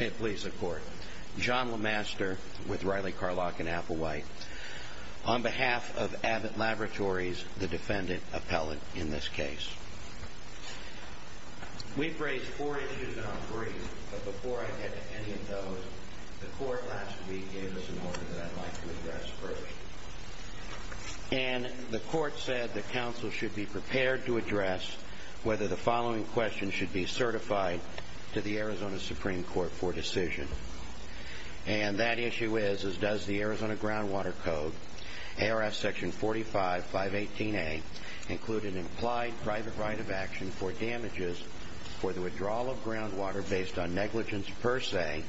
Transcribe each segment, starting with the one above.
May it please the court. John LeMaster with Riley, Carlock & Applewhite. On behalf of Abbott Laboratories, the defendant appellant in this case. We've raised four issues in our brief, but before I get to any of those, the court last week gave us an order that I'd like to address first. And the court said the counsel should be prepared to address whether the following question should be certified to the Arizona Supreme Court for decision. And that issue is, does the Arizona Groundwater Code, ARF Section 45, 518A, include an implied private right of action for damages for the withdrawal of groundwater based on negligence per se?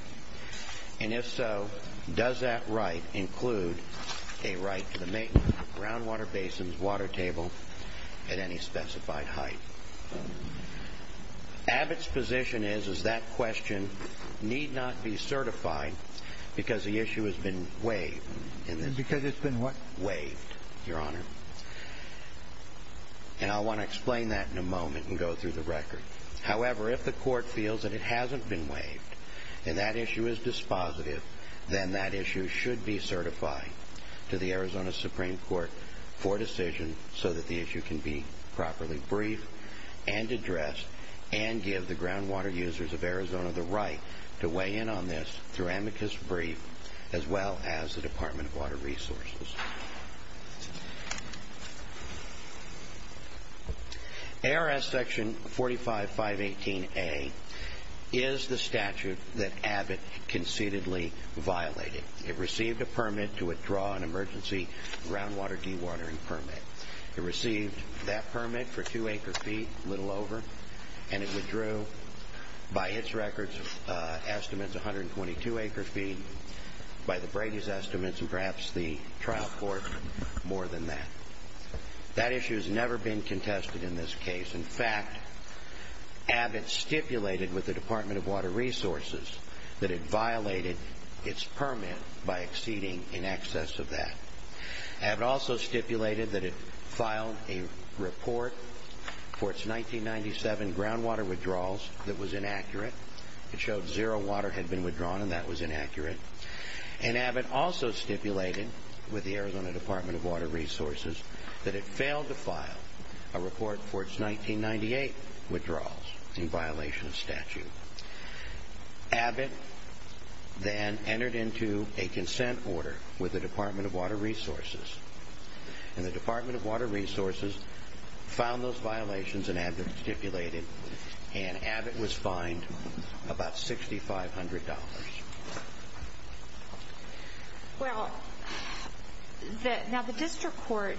And if so, does that right include a right to the maintenance of groundwater basins, water table, at any specified height? Abbott's position is, is that question need not be certified because the issue has been waived. And because it's been what? Waived, Your Honor. And I want to explain that in a moment and go through the record. However, if the court feels that it hasn't been waived and that issue is dispositive, then that issue should be certified to the Arizona Supreme Court for decision so that the issue can be properly briefed and addressed and give the groundwater users of Arizona the right to weigh in on this through amicus brief as well as the Department of Water Resources. ARF Section 45, 518A is the statute that Abbott concededly violated. It received a permit to withdraw an emergency groundwater dewatering permit. It received that permit for two acre feet, a little over, and it withdrew by its records estimates 122 acre feet by the Brady's estimates and perhaps the trial court more than that. That issue has never been contested in this case. In fact, Abbott stipulated with the Department of Water Resources that it violated its permit by exceeding in excess of that. Abbott also stipulated that it filed a report for its 1997 groundwater withdrawals that was inaccurate. It showed zero water had been withdrawn and that was inaccurate. Abbott also stipulated with the Arizona Department of Water Resources that it failed to file a report for its 1998 withdrawals in violation of statute. Abbott then entered into a consent order with the Department of Water Resources. The Department of Water Resources found those violations and Abbott stipulated and Abbott was fined about $6,500. Well, now the district court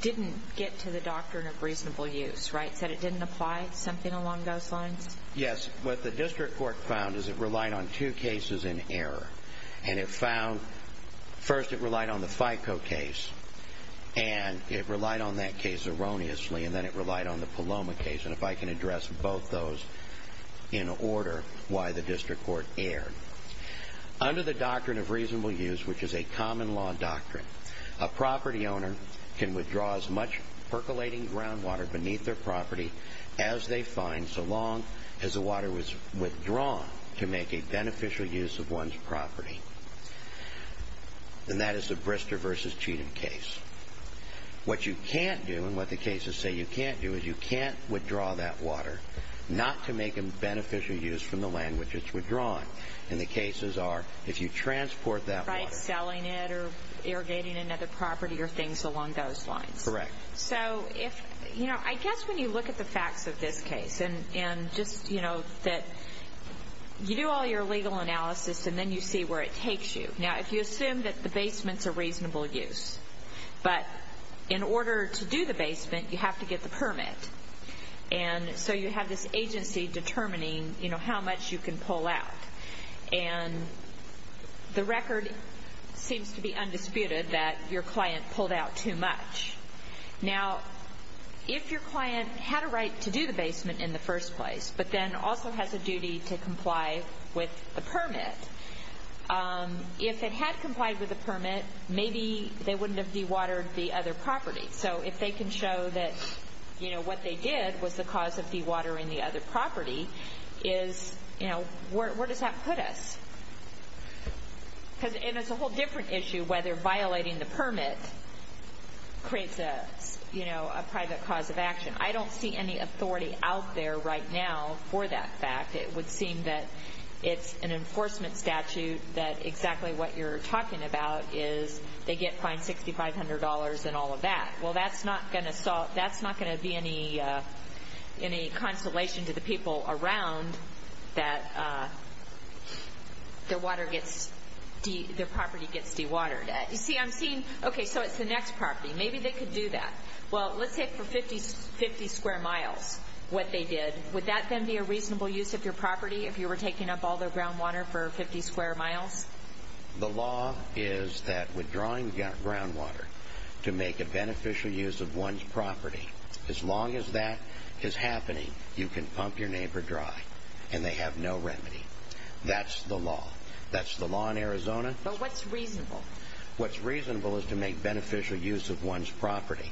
didn't get to the doctrine of reasonable use, right? It said it didn't apply something along those lines? Yes. What the district court found is it relied on two cases in error and it found first it relied on the FICO case and it relied on that case erroneously and then it relied on the Paloma case. And if I can address both those in order why the district court erred. Under the doctrine of reasonable use, which is a common law doctrine, a property owner can withdraw as much percolating groundwater beneath their property as they find so long as the water was withdrawn to make a beneficial use of one's property. And that is the Brister v. Cheatham case. What you can't do and what the cases say you can't do is you can't withdraw that water not to make a beneficial use from the land which it's withdrawn. And the cases are if you transport that water. By selling it or irrigating another property or things along those lines. Correct. So if, you know, I guess when you look at the facts of this case and just, you know, that you do all your legal analysis and then you see where it takes you. Now, if you assume that the basement's a reasonable use, but in order to do the basement you have to get the permit. And so you have this agency determining, you know, how much you can pull out. And the record seems to be undisputed that your client pulled out too much. Now, if your client had a right to do the basement in the first place but then also has a duty to comply with the permit, if it had complied with the permit maybe they wouldn't have dewatered the other property. So if they can show that, you know, what they did was the cause of dewatering the other property is, you know, where does that put us? And it's a whole different issue whether violating the permit creates a, you know, a private cause of action. I don't see any authority out there right now for that fact. It would seem that it's an enforcement statute that exactly what you're talking about is they get fined $6,500 and all of that. Well, that's not going to be any consolation to the people around that their property gets dewatered. You see, I'm seeing, okay, so it's the next property. Maybe they could do that. Well, let's say for 50 square miles what they did, would that then be a reasonable use of your property if you were taking up all their groundwater for 50 square miles? The law is that withdrawing groundwater to make a beneficial use of one's property, as long as that is happening you can pump your neighbor dry and they have no remedy. That's the law. That's the law in Arizona. But what's reasonable? What's reasonable is to make beneficial use of one's property.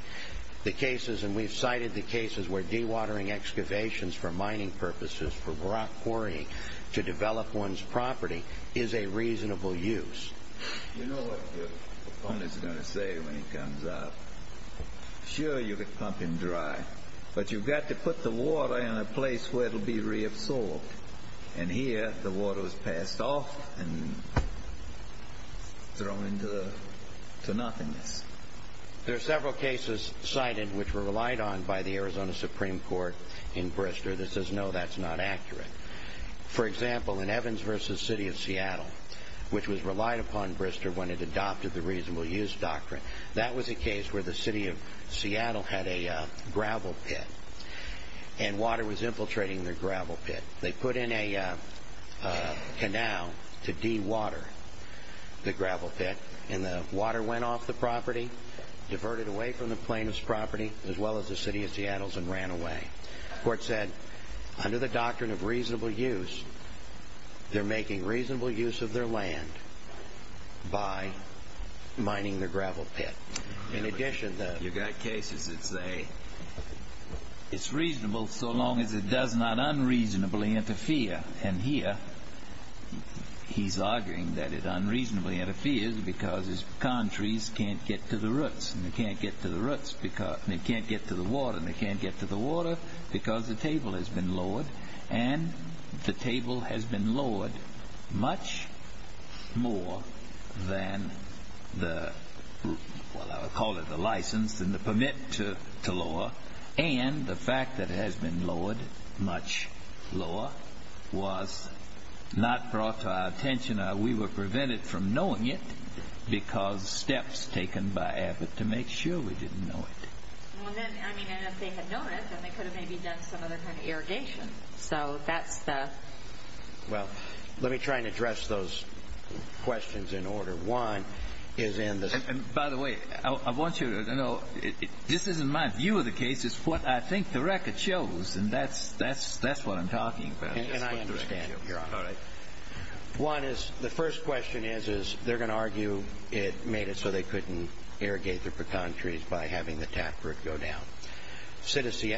The cases, and we've cited the cases where dewatering excavations for mining purposes, for rock quarrying to develop one's property is a reasonable use. You know what the owner's going to say when he comes out? Sure, you can pump him dry, but you've got to put the water in a place where it will be reabsorbed. And here the water was passed off and thrown into nothingness. There are several cases cited which were relied on by the Arizona Supreme Court in Bristol that says no, that's not accurate. For example, in Evans v. City of Seattle, which was relied upon in Bristol when it adopted the reasonable use doctrine, that was a case where the City of Seattle had a gravel pit and water was infiltrating their gravel pit. They put in a canal to dewater the gravel pit, and the water went off the property, diverted away from the plaintiff's property, as well as the City of Seattle's, and ran away. The court said, under the doctrine of reasonable use, they're making reasonable use of their land by mining their gravel pit. In addition, you've got cases that say, it's reasonable so long as it does not unreasonably interfere. And here, he's arguing that it unreasonably interferes because his palm trees can't get to the roots, and they can't get to the roots, and they can't get to the water, and they can't get to the water because the table has been lowered, and the table has been lowered much more than the, well, I would call it the license and the permit to lower, and the fact that it has been lowered much lower was not brought to our attention. We were prevented from knowing it because steps taken by Abbott to make sure we didn't know it. Well, then, I mean, if they had known it, then they could have maybe done some other kind of irrigation. So that's the… Well, let me try and address those questions in order. One is in the… And by the way, I want you to know, this isn't my view of the case, it's what I think the record shows, and that's what I'm talking about. And I understand, Your Honor. One is, the first question is, they're going to argue it made it so they couldn't irrigate their pecan trees by having the taproot go down. City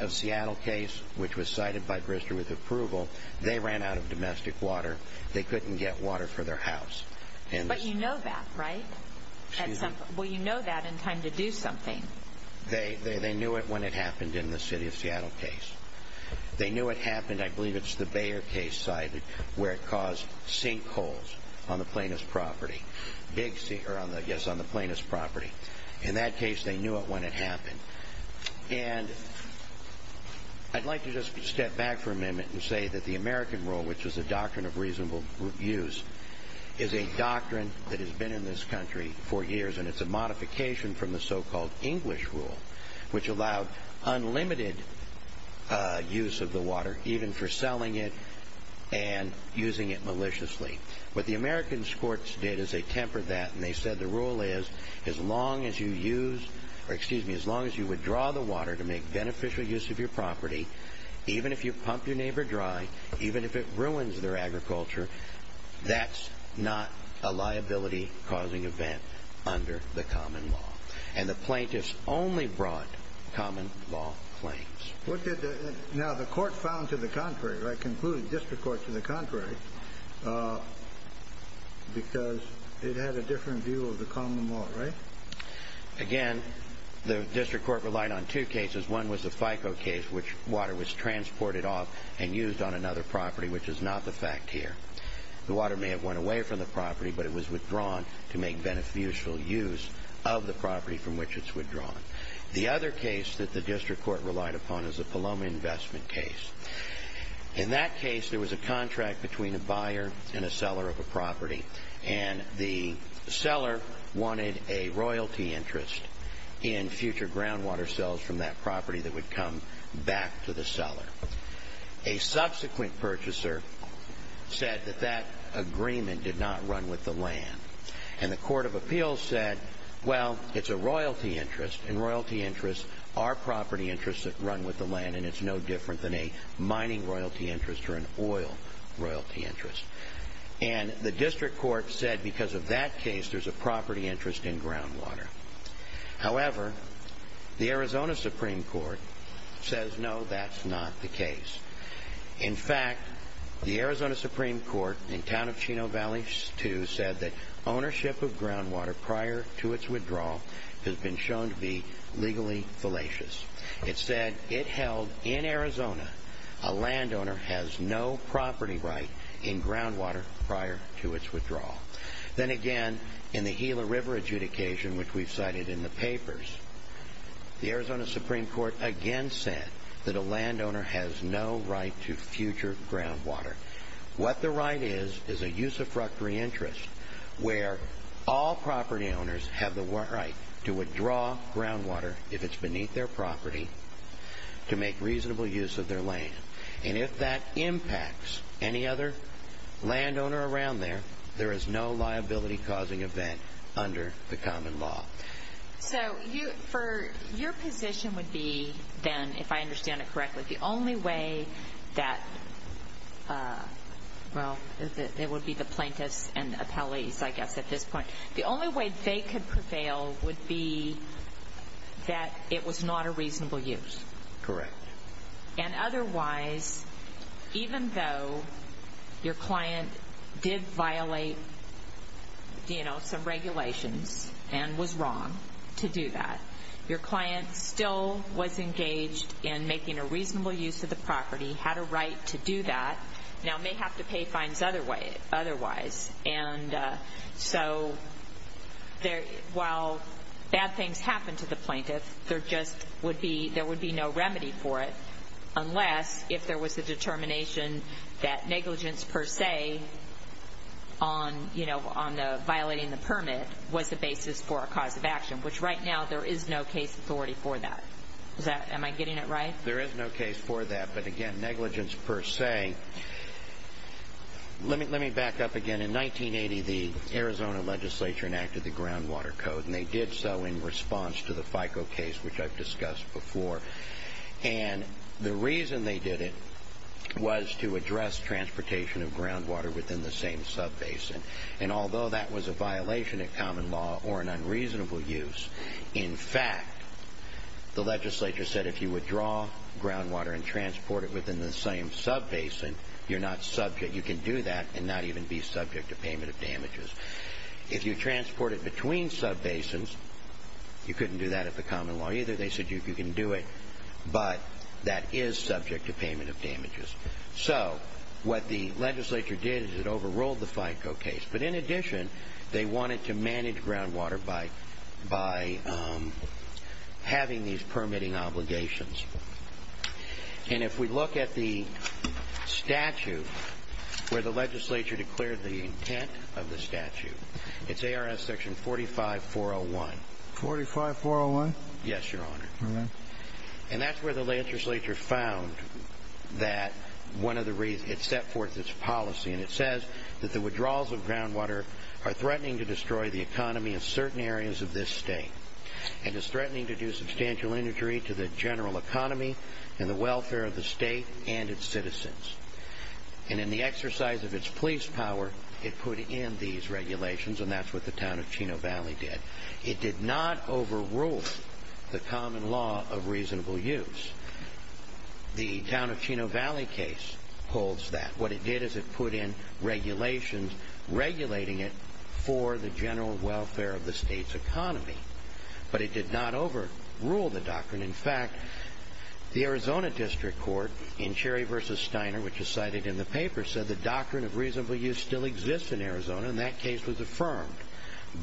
of Seattle case, which was cited by Bristow with approval, they ran out of domestic water. They couldn't get water for their house. But you know that, right? Well, you know that in time to do something. They knew it when it happened in the City of Seattle case. They knew it happened, I believe it's the Bayer case side, where it caused sinkholes on the plaintiff's property. Yes, on the plaintiff's property. In that case, they knew it when it happened. And I'd like to just step back for a minute and say that the American rule, which is a doctrine of reasonable use, is a doctrine that has been in this country for years, and it's a modification from the so-called English rule, which allowed unlimited use of the water, even for selling it and using it maliciously. What the American courts did is they tempered that, and they said the rule is as long as you use, or excuse me, as long as you withdraw the water to make beneficial use of your property, even if you pump your neighbor dry, even if it ruins their agriculture, that's not a liability-causing event under the common law. And the plaintiffs only brought common law claims. Now, the court found to the contrary, I concluded district court to the contrary, because it had a different view of the common law, right? Again, the district court relied on two cases. One was the FICO case, which water was transported off and used on another property, which is not the fact here. The water may have went away from the property, but it was withdrawn to make beneficial use of the property from which it's withdrawn. The other case that the district court relied upon is the Paloma investment case. In that case, there was a contract between a buyer and a seller of a property, and the seller wanted a royalty interest in future groundwater sales from that property that would come back to the seller. A subsequent purchaser said that that agreement did not run with the land, and the court of appeals said, well, it's a royalty interest, and royalty interests are property interests that run with the land, and it's no different than a mining royalty interest or an oil royalty interest. And the district court said because of that case, there's a property interest in groundwater. However, the Arizona Supreme Court says, no, that's not the case. In fact, the Arizona Supreme Court in Town of Chino Valley 2 said that ownership of groundwater prior to its withdrawal has been shown to be legally fallacious. It said it held in Arizona a landowner has no property right in groundwater prior to its withdrawal. Then again, in the Gila River adjudication, which we've cited in the papers, the Arizona Supreme Court again said that a landowner has no right to future groundwater. What the right is is a use of fructory interest where all property owners have the right to withdraw groundwater if it's beneath their property to make reasonable use of their land. And if that impacts any other landowner around there, there is no liability-causing event under the common law. So your position would be then, if I understand it correctly, the only way that, well, it would be the plaintiffs and the appellees, I guess, at this point. The only way they could prevail would be that it was not a reasonable use. Correct. And otherwise, even though your client did violate some regulations and was wrong to do that, your client still was engaged in making a reasonable use of the property, had a right to do that, now may have to pay fines otherwise. And so while bad things happen to the plaintiff, there would be no remedy for it unless if there was a determination that negligence per se on violating the permit was the basis for a cause of action, which right now there is no case authority for that. Am I getting it right? There is no case for that. But again, negligence per se. Let me back up again. In 1980, the Arizona legislature enacted the Groundwater Code, and they did so in response to the FICO case, which I've discussed before. And the reason they did it was to address transportation of groundwater within the same sub-basin. And although that was a violation of common law or an unreasonable use, in fact, the legislature said if you withdraw groundwater and transport it within the same sub-basin, you can do that and not even be subject to payment of damages. If you transport it between sub-basins, you couldn't do that at the common law either. They said you can do it, but that is subject to payment of damages. So what the legislature did is it overruled the FICO case. But in addition, they wanted to manage groundwater by having these permitting obligations. And if we look at the statute where the legislature declared the intent of the statute, it's ARS section 45401. 45401? Yes, Your Honor. All right. And that's where the legislature found that one of the reasons it set forth its policy, and it says that the withdrawals of groundwater are threatening to destroy the economy in certain areas of this state and is threatening to do substantial injury to the general economy and the welfare of the state and its citizens. And in the exercise of its police power, it put in these regulations, and that's what the town of Chino Valley did. It did not overrule the common law of reasonable use. The town of Chino Valley case holds that. What it did is it put in regulations regulating it for the general welfare of the state's economy. But it did not overrule the doctrine. In fact, the Arizona District Court in Cherry v. Steiner, which is cited in the paper, said the doctrine of reasonable use still exists in Arizona, and that case was affirmed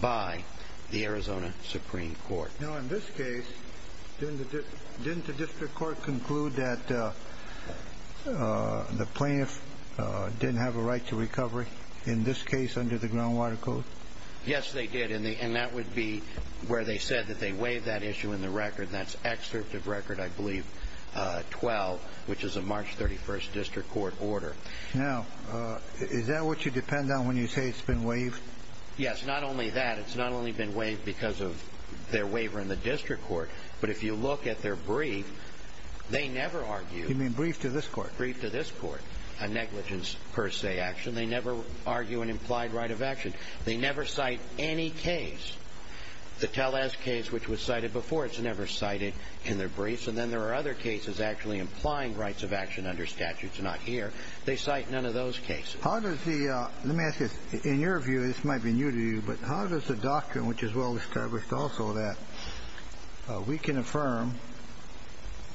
by the Arizona Supreme Court. Now, in this case, didn't the district court conclude that the plaintiff didn't have a right to recovery, in this case under the groundwater code? Yes, they did, and that would be where they said that they waived that issue in the record, and that's excerpt of record, I believe, 12, which is a March 31st district court order. Now, is that what you depend on when you say it's been waived? Yes, not only that. It's not only been waived because of their waiver in the district court, but if you look at their brief, they never argue. You mean brief to this court? Brief to this court, a negligence per se action. They never argue an implied right of action. They never cite any case, the Tellez case, which was cited before. It's never cited in their briefs. And then there are other cases actually implying rights of action under statutes, not here. They cite none of those cases. Let me ask you, in your view, this might be new to you, but how does the doctrine, which is well-established also, that we can affirm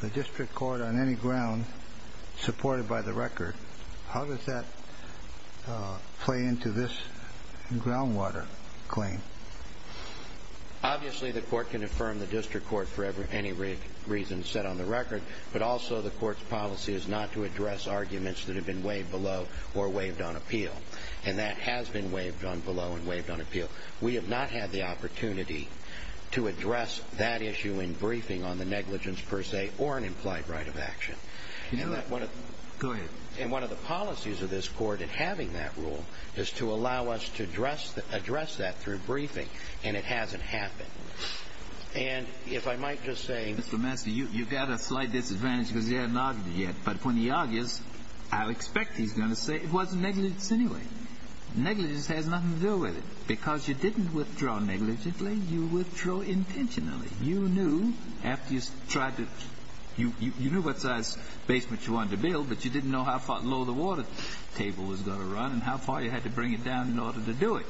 the district court on any ground supported by the record, how does that play into this groundwater claim? Obviously, the court can affirm the district court for any reason set on the record, but also the court's policy is not to address arguments that have been waived below or waived on appeal, and that has been waived on below and waived on appeal. We have not had the opportunity to address that issue in briefing on the negligence per se or an implied right of action. Go ahead. And one of the policies of this court in having that rule is to allow us to address that through briefing, and it hasn't happened. And if I might just say, Mr. Master, you've got a slight disadvantage because you haven't argued yet, but when he argues, I'll expect he's going to say it wasn't negligence anyway. Negligence has nothing to do with it. Because you didn't withdraw negligently, you withdrew intentionally. You knew what size basement you wanted to build, but you didn't know how far below the water table was going to run and how far you had to bring it down in order to do it.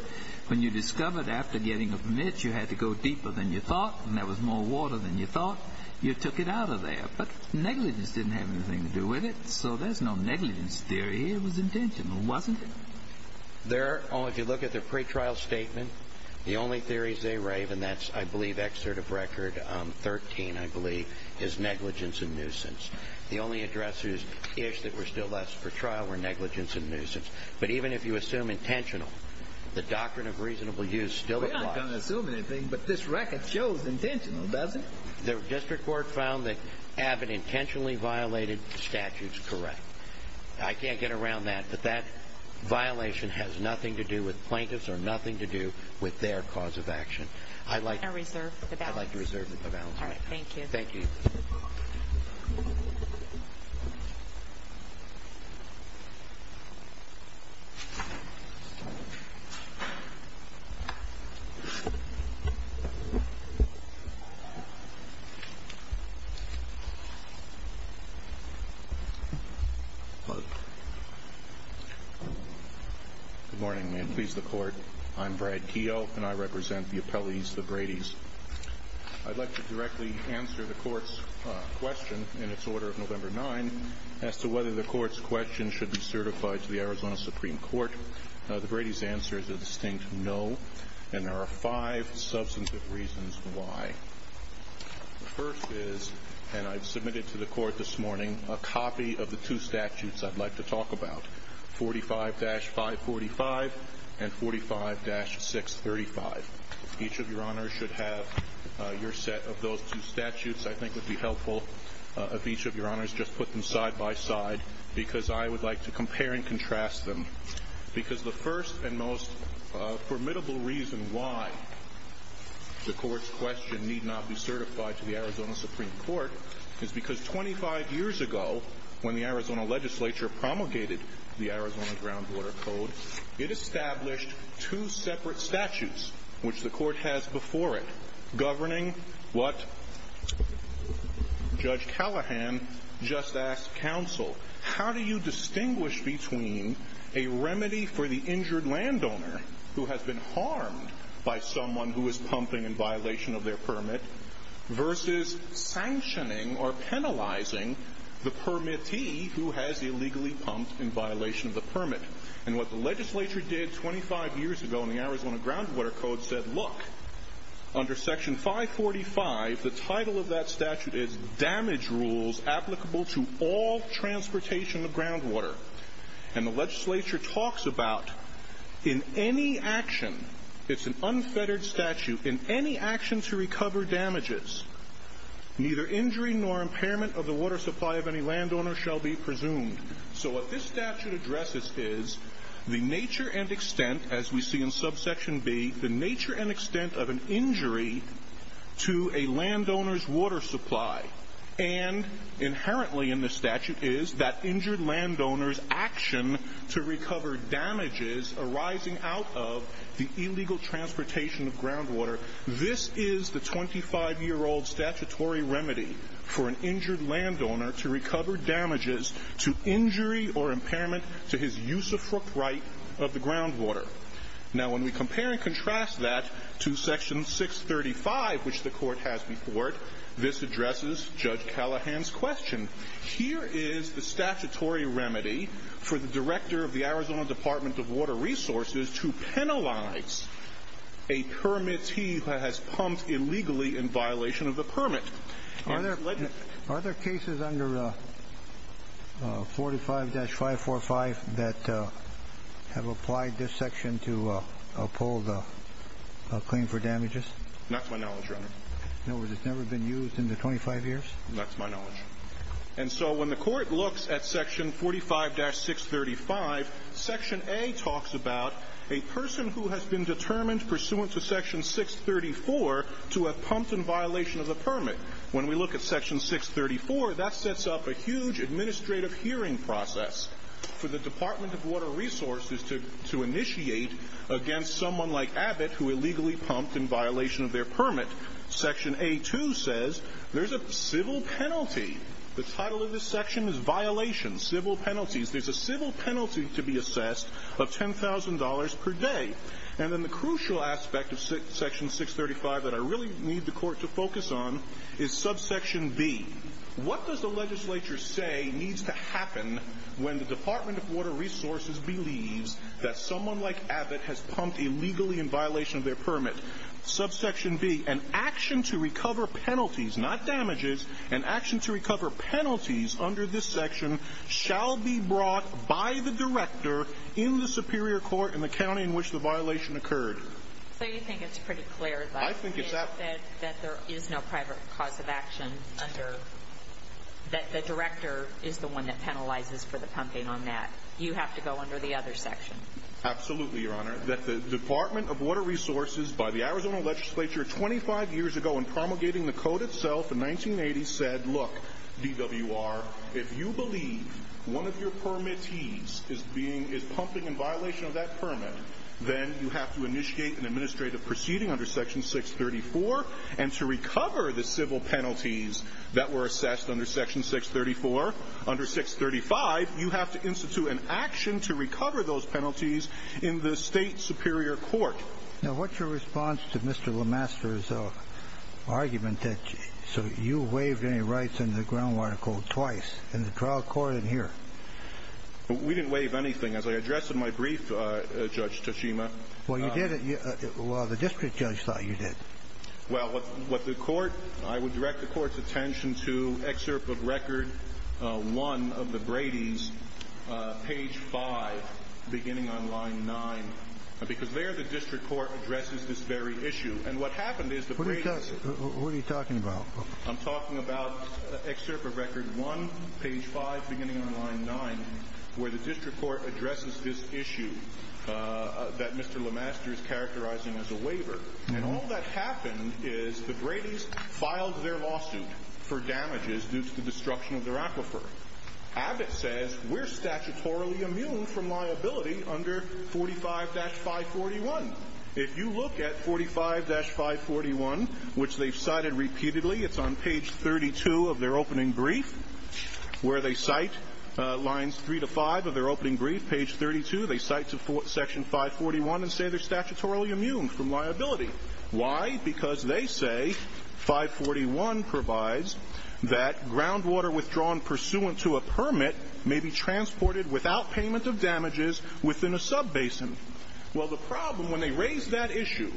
When you discovered after getting a permit you had to go deeper than you thought and there was more water than you thought, you took it out of there. But negligence didn't have anything to do with it, so there's no negligence theory here. It was intentional, wasn't it? If you look at the pretrial statement, the only theories they rave, and that's, I believe, excerpt of Record 13, I believe, is negligence and nuisance. The only addresses-ish that were still left for trial were negligence and nuisance. But even if you assume intentional, the doctrine of reasonable use still applies. We're not going to assume anything, but this record shows intentional, does it? The district court found that Abbott intentionally violated statutes correct. I can't get around that, but that violation has nothing to do with plaintiffs or nothing to do with their cause of action. I'd like to reserve the balance. I'd like to reserve the balance. All right, thank you. Thank you. Thank you. Good morning. May it please the Court. I'm Brad Keough, and I represent the appellees, the Bradys. I'd like to directly answer the Court's question in its order of November 9 as to whether the Court's question should be certified to the Arizona Supreme Court. The Bradys' answer is a distinct no, and there are five substantive reasons why. The first is, and I've submitted to the Court this morning, a copy of the two statutes I'd like to talk about, 45-545 and 45-635. Each of your honors should have your set of those two statutes. I think it would be helpful if each of your honors just put them side by side because I would like to compare and contrast them. Because the first and most formidable reason why the Court's question need not be certified to the Arizona Supreme Court is because 25 years ago, when the Arizona legislature promulgated the Arizona Groundwater Code, it established two separate statutes, which the Court has before it, what Judge Callahan just asked counsel, how do you distinguish between a remedy for the injured landowner who has been harmed by someone who is pumping in violation of their permit versus sanctioning or penalizing the permittee who has illegally pumped in violation of the permit? And what the legislature did 25 years ago in the Arizona Groundwater Code said, look, under section 545, the title of that statute is Damage Rules Applicable to All Transportation of Groundwater. And the legislature talks about in any action, it's an unfettered statute, in any action to recover damages, neither injury nor impairment of the water supply of any landowner shall be presumed. So what this statute addresses is the nature and extent, as we see in subsection B, the nature and extent of an injury to a landowner's water supply. And inherently in this statute is that injured landowner's action to recover damages arising out of the illegal transportation of groundwater. This is the 25-year-old statutory remedy for an injured landowner to recover damages to injury or impairment to his use of fruit right of the groundwater. Now when we compare and contrast that to section 635, which the court has before it, this addresses Judge Callahan's question. Here is the statutory remedy for the director of the Arizona Department of Water Resources to penalize a permittee who has pumped illegally in violation of the permit. Are there cases under 45-545 that have applied this section to uphold a claim for damages? Not to my knowledge, Your Honor. In other words, it's never been used in the 25 years? Not to my knowledge. And so when the court looks at section 45-635, section A talks about a person who has been determined pursuant to section 634 to have pumped in violation of the permit. When we look at section 634, that sets up a huge administrative hearing process for the Department of Water Resources to initiate against someone like Abbott who illegally pumped in violation of their permit. Section A-2 says there's a civil penalty. The title of this section is violations, civil penalties. There's a civil penalty to be assessed of $10,000 per day. And then the crucial aspect of section 635 that I really need the court to focus on is subsection B. What does the legislature say needs to happen when the Department of Water Resources believes that someone like Abbott has pumped illegally in violation of their permit? Subsection B, an action to recover penalties, not damages, an action to recover penalties under this section shall be brought by the director in the superior court in the county in which the violation occurred. So you think it's pretty clear that there is no private cause of action under, that the director is the one that penalizes for the pumping on that. You have to go under the other section. Absolutely, Your Honor. That the Department of Water Resources by the Arizona legislature 25 years ago when promulgating the code itself in 1980 said, look, DWR, if you believe one of your permittees is being, is pumping in violation of that permit, then you have to initiate an administrative proceeding under section 634 and to recover the civil penalties that were assessed under section 634. Under 635, you have to institute an action to recover those penalties in the state superior court. Now, what's your response to Mr. LeMaster's argument that you waived any rights under the groundwater code twice, in the trial court and here? We didn't waive anything. As I addressed in my brief, Judge Tachima. Well, you did. Well, the district judge thought you did. Well, what the court, I would direct the court's attention to excerpt of record 1 of the Brady's, page 5, beginning on line 9, because there the district court addresses this very issue. And what happened is the Brady's. What are you talking about? I'm talking about excerpt of record 1, page 5, beginning on line 9, where the district court addresses this issue that Mr. LeMaster is characterizing as a waiver. And all that happened is the Brady's filed their lawsuit for damages due to the destruction of their aquifer. Abbott says we're statutorily immune from liability under 45-541. If you look at 45-541, which they've cited repeatedly, it's on page 32 of their opening brief, where they cite lines 3 to 5 of their opening brief, page 32, they cite section 541 and say they're statutorily immune from liability. Why? Because they say 541 provides that groundwater withdrawn pursuant to a permit may be transported without payment of damages within a sub-basin. Well, the problem, when they raise that issue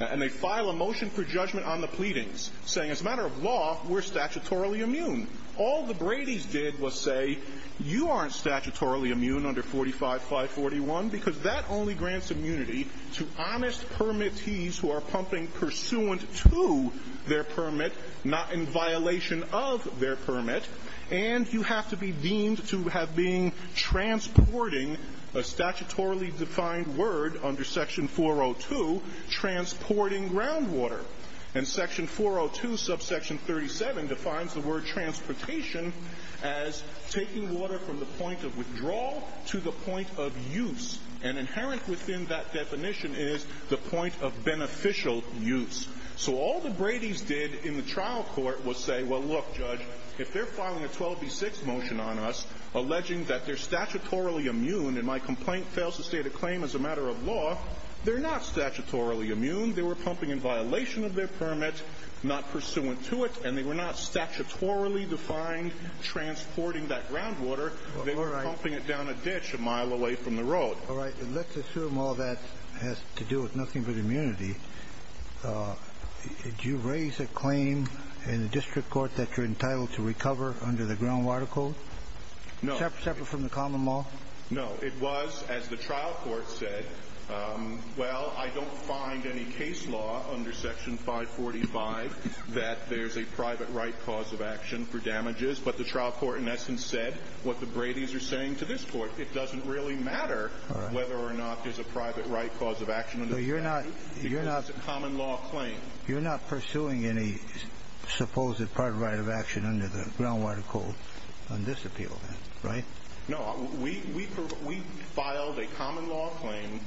and they file a motion for judgment on the pleadings, saying as a matter of law, we're statutorily immune, all the Brady's did was say you aren't statutorily immune under 45-541 because that only grants immunity to honest permittees who are pumping pursuant to their permit, not in violation of their permit, and you have to be deemed to have been transporting a statutorily defined word under section 402, transporting groundwater. And section 402 subsection 37 defines the word transportation as taking water from the point of withdrawal to the point of use, and inherent within that definition is the point of beneficial use. So all the Brady's did in the trial court was say, well, look, Judge, if they're filing a 12B6 motion on us, alleging that they're statutorily immune and my complaint fails to state a claim as a matter of law, they're not statutorily immune, they were pumping in violation of their permit, not pursuant to it, and they were not statutorily defined transporting that groundwater, they were pumping it down a ditch a mile away from the road. All right. Let's assume all that has to do with nothing but immunity. Did you raise a claim in the district court that you're entitled to recover under the groundwater code? No. Separate from the common law? No. It was, as the trial court said, well, I don't find any case law under section 545 that there's a private right cause of action for damages, but the trial court, in essence, said what the Brady's are saying to this court. It doesn't really matter whether or not there's a private right cause of action. So you're not. Because it's a common law claim. You're not pursuing any supposed private right of action under the groundwater code on this appeal, right? No. We filed a common law claim.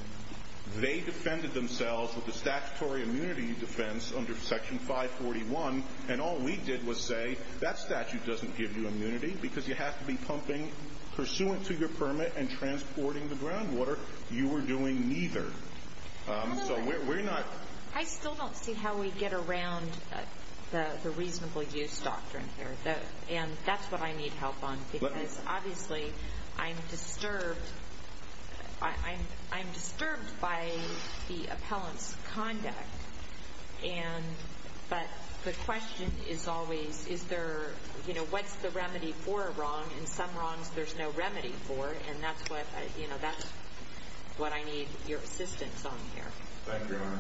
They defended themselves with a statutory immunity defense under section 541, and all we did was say that statute doesn't give you immunity because you have to be pumping pursuant to your permit and transporting the groundwater. You were doing neither. So we're not. I still don't see how we get around the reasonable use doctrine here, and that's what I need help on because, obviously, I'm disturbed. I'm disturbed by the appellant's conduct, but the question is always what's the remedy for a wrong, and some wrongs there's no remedy for, and that's what I need your assistance on here. Thank you, Your Honor.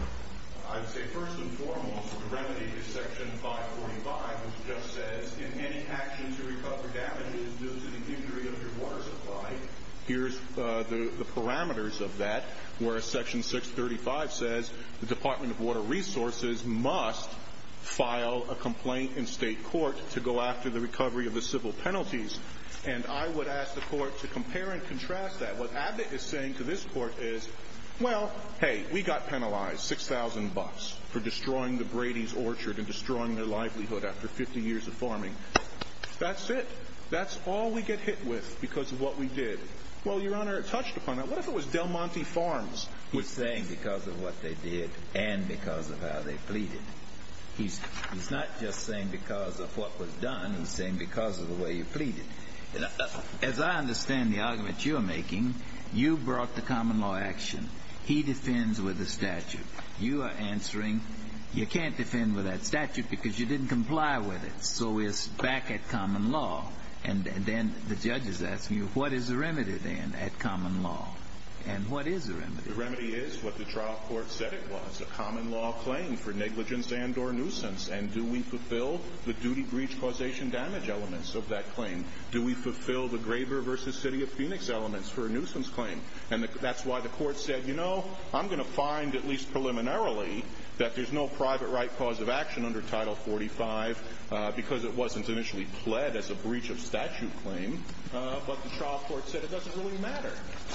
I would say first and foremost the remedy is section 545, which just says if any actions to recover damages due to the injury of your water supply, here's the parameters of that, whereas section 635 says the Department of Water Resources must file a complaint in state court to go after the recovery of the civil penalties, and I would ask the court to compare and contrast that. What Abbott is saying to this court is, well, hey, we got penalized 6,000 bucks for destroying the Brady's Orchard and destroying their livelihood after 50 years of farming. That's it. That's all we get hit with because of what we did. Well, Your Honor, it touched upon that. What if it was Del Monte Farms? He's saying because of what they did and because of how they pleaded. He's not just saying because of what was done. He's saying because of the way you pleaded. As I understand the argument you're making, you brought the common law action. He defends with the statute. You are answering you can't defend with that statute because you didn't comply with it, so we're back at common law. And then the judge is asking you what is the remedy then at common law, and what is the remedy? The remedy is what the trial court said it was, a common law claim for negligence and or nuisance, and do we fulfill the duty breach causation damage elements of that claim? Do we fulfill the Graber v. City of Phoenix elements for a nuisance claim? And that's why the court said, you know, I'm going to find at least preliminarily that there's no private right cause of action under Title 45 because it wasn't initially pled as a breach of statute claim, but the trial court said it doesn't really matter.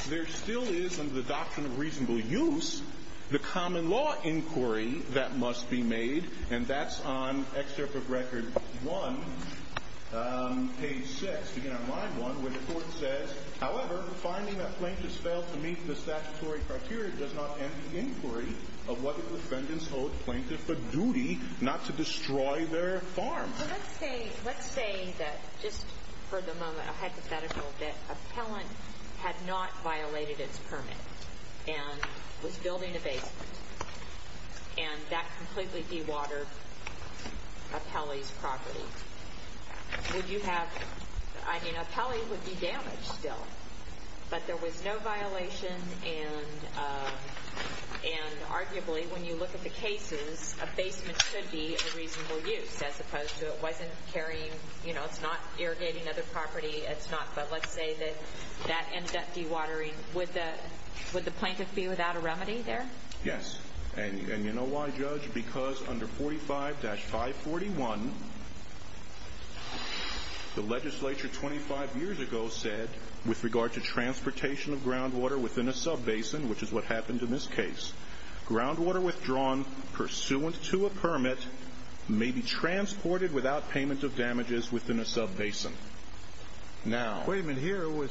There still is under the doctrine of reasonable use the common law inquiry that must be made, and that's on Excerpt of Record 1, page 6. Again, on line 1, where the court says, however, finding that plaintiffs failed to meet the statutory criteria does not end the inquiry of what the defendants owed plaintiffs the duty not to destroy their farm. Well, let's say that just for the moment a hypothetical, that an appellant had not violated its permit and was building a basement, and that completely dewatered appellee's property. Would you have, I mean, appellee would be damaged still, but there was no violation, and arguably when you look at the cases, a basement should be of reasonable use as opposed to it wasn't carrying, you know, it's not irrigating other property, it's not, but let's say that that ended up dewatering. Would the plaintiff be without a remedy there? Yes, and you know why, Judge? Because under 45-541, the legislature 25 years ago said, with regard to transportation of groundwater within a sub-basin, which is what happened in this case, groundwater withdrawn pursuant to a permit may be transported without payment of damages within a sub-basin. Now... Wait a minute, here it was,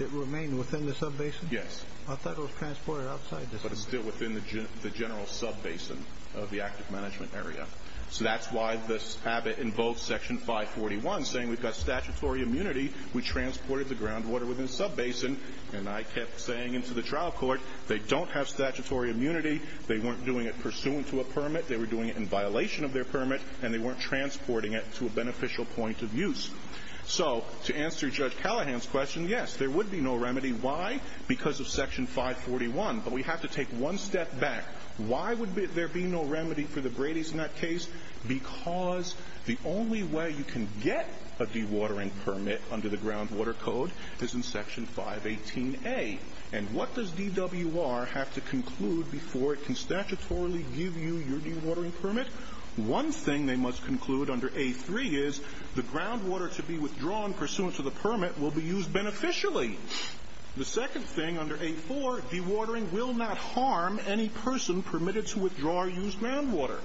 it remained within the sub-basin? Yes. I thought it was transported outside the sub-basin. But it's still within the general sub-basin of the active management area. So that's why this habit in both Section 541 saying we've got statutory immunity, we transported the groundwater within a sub-basin, and I kept saying into the trial court, they don't have statutory immunity, they weren't doing it pursuant to a permit, they were doing it in violation of their permit, and they weren't transporting it to a beneficial point of use. So to answer Judge Callahan's question, yes, there would be no remedy. Why? Because of Section 541. But we have to take one step back. Why would there be no remedy for the Brady's in that case? Because the only way you can get a dewatering permit under the Groundwater Code is in Section 518A. And what does DWR have to conclude before it can statutorily give you your dewatering permit? One thing they must conclude under A3 is the groundwater to be withdrawn pursuant to the permit will be used beneficially. The second thing under A4, dewatering will not harm any person permitted to withdraw or use groundwater.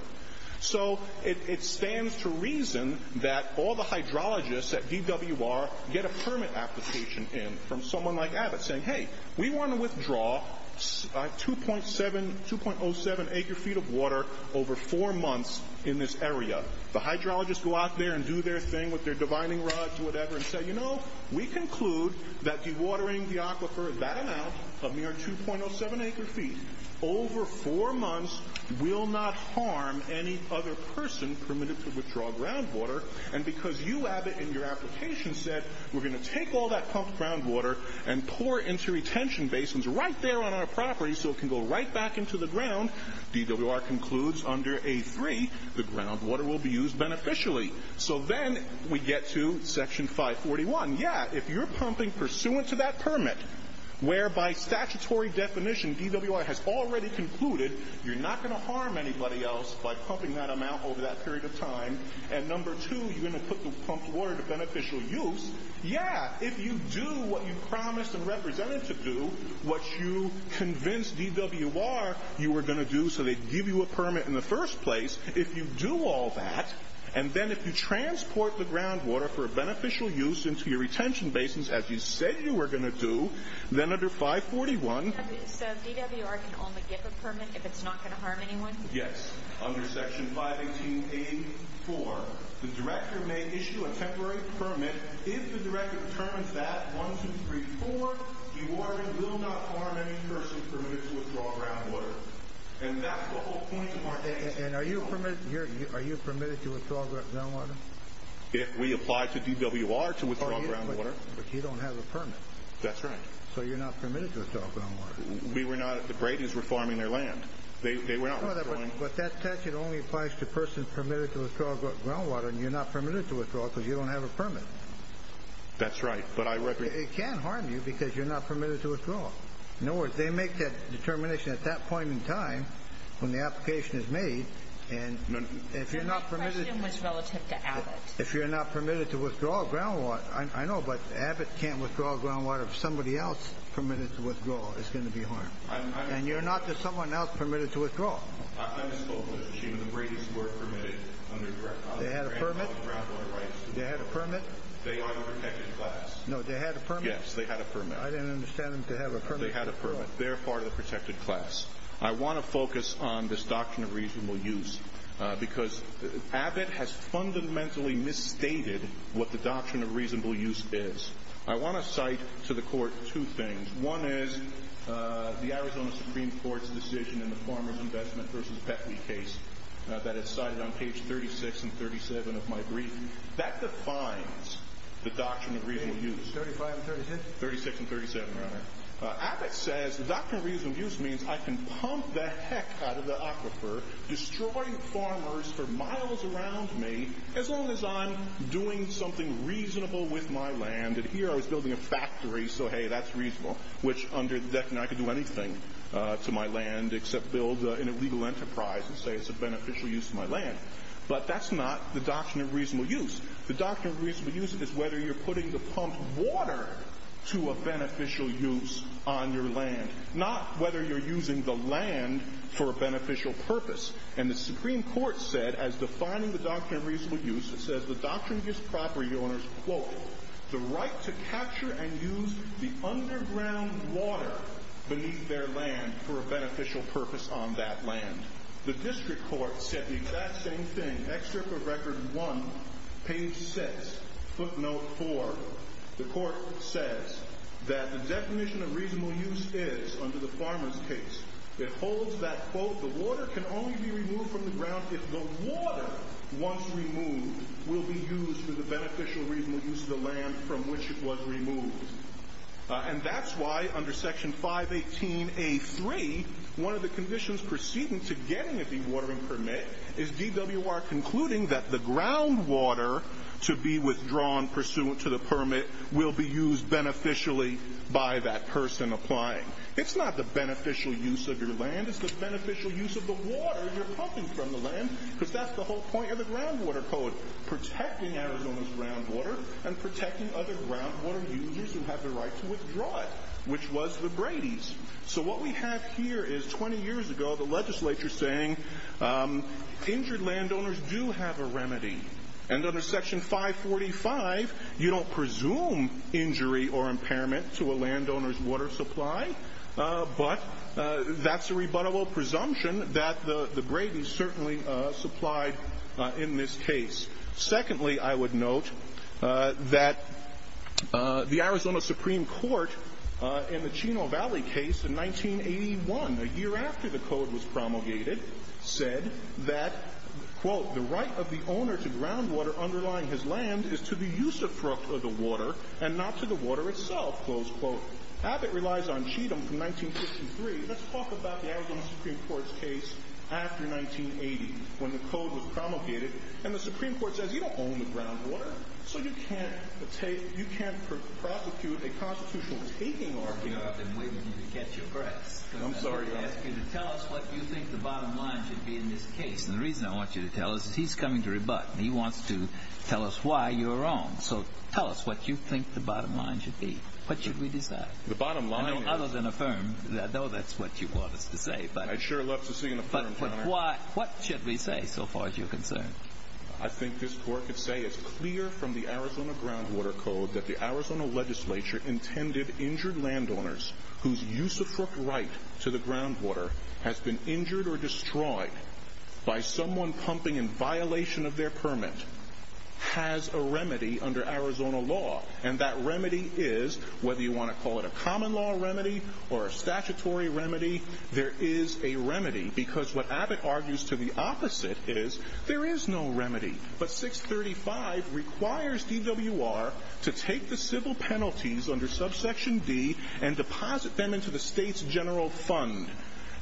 So it stands to reason that all the hydrologists at DWR get a permit application in from someone like Abbott saying, hey, we want to withdraw 2.07 acre-feet of water over four months in this area. The hydrologists go out there and do their thing with their divining rods or whatever and say, you know, we conclude that dewatering the aquifer, that amount, a mere 2.07 acre-feet, over four months will not harm any other person permitted to withdraw groundwater. And because you, Abbott, in your application said we're going to take all that pumped groundwater and pour it into retention basins right there on our property so it can go right back into the ground, DWR concludes under A3 the groundwater will be used beneficially. So then we get to Section 541. Yeah, if you're pumping pursuant to that permit, whereby statutory definition DWR has already concluded you're not going to harm anybody else by pumping that amount over that period of time, and number two, you're going to put the pumped water to beneficial use, yeah, if you do what you promised and represented to do, what you convinced DWR you were going to do so they'd give you a permit in the first place, if you do all that, and then if you transport the groundwater for beneficial use into your retention basins as you said you were going to do, then under 541... So DWR can only give a permit if it's not going to harm anyone? Yes. Under Section 518.84, the director may issue a temporary permit. If the director determines that, 1, 2, 3, 4, DWR will not harm any person permitted to withdraw groundwater. And that's the whole point of our application. And are you permitted to withdraw groundwater? We apply to DWR to withdraw groundwater. But you don't have a permit. That's right. So you're not permitted to withdraw groundwater. The Brady's were farming their land. But that statute only applies to persons permitted to withdraw groundwater and you're not permitted to withdraw because you don't have a permit. That's right. It can harm you because you're not permitted to withdraw. In other words, they make that determination at that point in time when the application is made and if you're not permitted... My question was relative to Abbott. If you're not permitted to withdraw groundwater, I know, but Abbott can't withdraw groundwater. If somebody else permitted to withdraw, it's going to be harmed. And you're not to someone else permitted to withdraw. I misspoke, Mr. Sheehan. The Brady's were permitted under... They had a permit? ...groundwater rights. They had a permit? They are the protected class. No, they had a permit? Yes, they had a permit. I didn't understand them to have a permit. They had a permit. They're part of the protected class. I want to focus on this Doctrine of Reasonable Use because Abbott has fundamentally misstated what the Doctrine of Reasonable Use is. I want to cite to the Court two things. One is the Arizona Supreme Court's decision in the Farmer's Investment v. Beckley case that is cited on page 36 and 37 of my brief. That defines the Doctrine of Reasonable Use. Page 35 and 36? 36 and 37, Your Honor. Abbott says the Doctrine of Reasonable Use means I can pump the heck out of the aquifer, destroy the farmers for miles around me, as long as I'm doing something reasonable with my land. And here I was building a factory, so hey, that's reasonable, which under the Deccan I could do anything to my land except build an illegal enterprise and say it's a beneficial use of my land. But that's not the Doctrine of Reasonable Use. The Doctrine of Reasonable Use is whether you're putting the pumped water to a beneficial use on your land, not whether you're using the land for a beneficial purpose. And the Supreme Court said, as defining the Doctrine of Reasonable Use, it says the Doctrine gives property owners, quote, the right to capture and use the underground water beneath their land for a beneficial purpose on that land. The district court said the exact same thing. Excerpt of Record 1, page 6, footnote 4. The court says that the definition of reasonable use is, under the farmer's case, it holds that, quote, the water can only be removed from the ground if the water, once removed, will be used for the beneficial reasonable use of the land from which it was removed. And that's why, under Section 518A3, one of the conditions proceeding to getting a dewatering permit is DWR concluding that the groundwater to be withdrawn pursuant to the permit will be used beneficially by that person applying. It's not the beneficial use of your land. It's the beneficial use of the water you're pumping from the land, because that's the whole point of the Groundwater Code, protecting Arizona's groundwater and protecting other groundwater users who have the right to withdraw it, which was the Brady's. So what we have here is, 20 years ago, the legislature saying injured landowners do have a remedy. And under Section 545, you don't presume injury or impairment to a landowner's water supply, but that's a rebuttable presumption that the Brady's certainly supplied in this case. Secondly, I would note that the Arizona Supreme Court, in the Chino Valley case in 1981, a year after the Code was promulgated, said that, quote, the right of the owner to groundwater underlying his land is to the use of the water and not to the water itself. Close quote. Abbott relies on Cheatham from 1953. Let's talk about the Arizona Supreme Court's case after 1980, when the Code was promulgated, and the Supreme Court says you don't own the groundwater, so you can't prosecute a constitutional taking argument. I've been waiting for you to catch your breath. I'm sorry. I'm going to ask you to tell us what you think the bottom line should be in this case. And the reason I want you to tell us is he's coming to rebut, and he wants to tell us why you're wrong. So tell us what you think the bottom line should be. What should we decide? The bottom line is— Other than affirm, though that's what you want us to say, but— I'd sure love to see an affirm, Your Honor. But what should we say, so far as you're concerned? I think this Court could say it's clear from the Arizona Groundwater Code that the Arizona legislature intended injured landowners whose use of footright to the groundwater has been injured or destroyed by someone pumping in violation of their permit has a remedy under Arizona law. And that remedy is, whether you want to call it a common law remedy or a statutory remedy, there is a remedy. Because what Abbott argues to the opposite is there is no remedy. But 635 requires DWR to take the civil penalties under subsection D and deposit them into the state's general fund.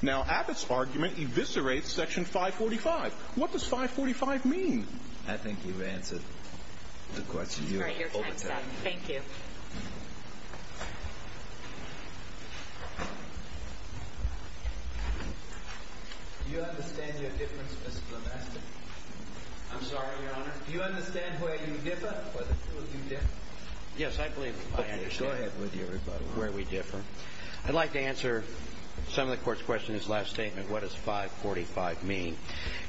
Now, Abbott's argument eviscerates section 545. What does 545 mean? I think you've answered the question. All right, your time's up. Thank you. Do you understand your difference, Mr. Plowmaster? I'm sorry, Your Honor? Do you understand where you differ? Yes, I believe I understand where we differ. I'd like to answer some of the Court's questions in his last statement. What does 545 mean?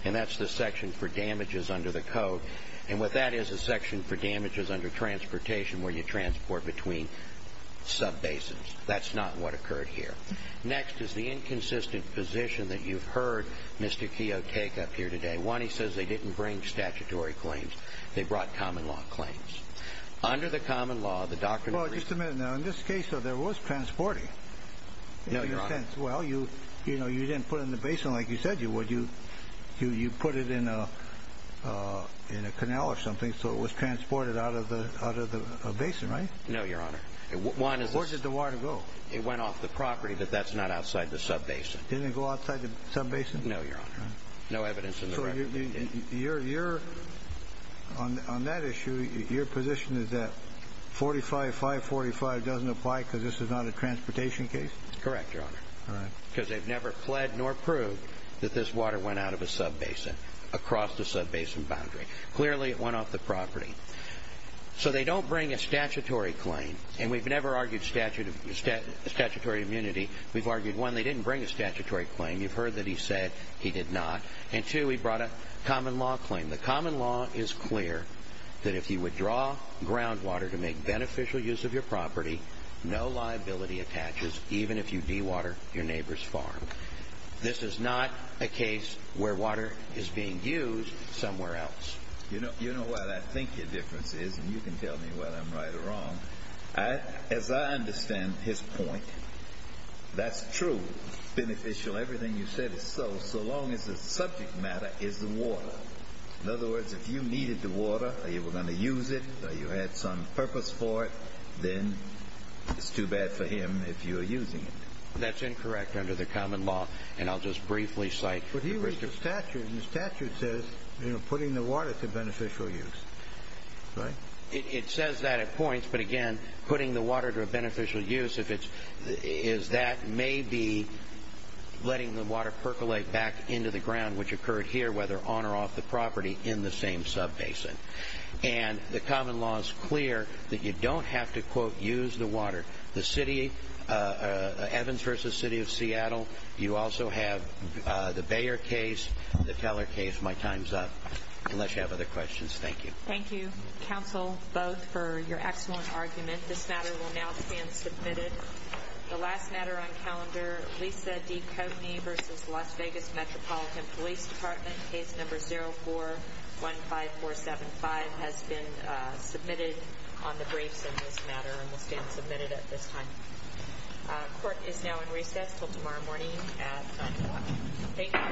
And that's the section for damages under the Code. And what that is is a section for damages under transportation where you transport between subbasins. That's not what occurred here. Next is the inconsistent position that you've heard Mr. Keogh take up here today. One, he says they didn't bring statutory claims. They brought common law claims. Under the common law, the doctrine of reason... Well, just a minute now. In this case, there was transporting. No, Your Honor. Well, you didn't put it in the basin like you said you would. You put it in a canal or something, so it was transported out of the basin, right? No, Your Honor. Where did the water go? It went off the property, but that's not outside the subbasin. Didn't it go outside the subbasin? No, Your Honor. No evidence in the record that it did. On that issue, your position is that 45, 545 doesn't apply because this is not a transportation case? Correct, Your Honor. All right. Because they've never pled nor proved that this water went out of a subbasin, across the subbasin boundary. Clearly, it went off the property. So they don't bring a statutory claim, and we've never argued statutory immunity. We've argued, one, they didn't bring a statutory claim. You've heard that he said he did not. And, two, he brought a common law claim. The common law is clear that if you withdraw groundwater to make beneficial use of your property, no liability attaches, even if you dewater your neighbor's farm. This is not a case where water is being used somewhere else. You know what I think your difference is, and you can tell me whether I'm right or wrong. As I understand his point, that's true, beneficial, everything you said is so, so long as the subject matter is the water. In other words, if you needed the water, or you were going to use it, or you had some purpose for it, then it's too bad for him if you're using it. That's incorrect under the common law, and I'll just briefly cite. But he reads the statute, and the statute says, you know, putting the water to beneficial use, right? It says that at points, but, again, putting the water to a beneficial use, if it's, is that maybe letting the water percolate back into the ground, which occurred here, whether on or off the property, in the same subbasin. And the common law is clear that you don't have to, quote, use the water. The city, Evans v. City of Seattle, you also have the Bayer case, the Teller case. My time's up, unless you have other questions. Thank you. Thank you, counsel, both, for your excellent argument. This matter will now stand submitted. The last matter on calendar, Lisa D. Coatney v. Las Vegas Metropolitan Police Department, case number 0415475, has been submitted on the briefs in this matter, and will stand submitted at this time. Court is now in recess until tomorrow morning at 9 o'clock. Thank you.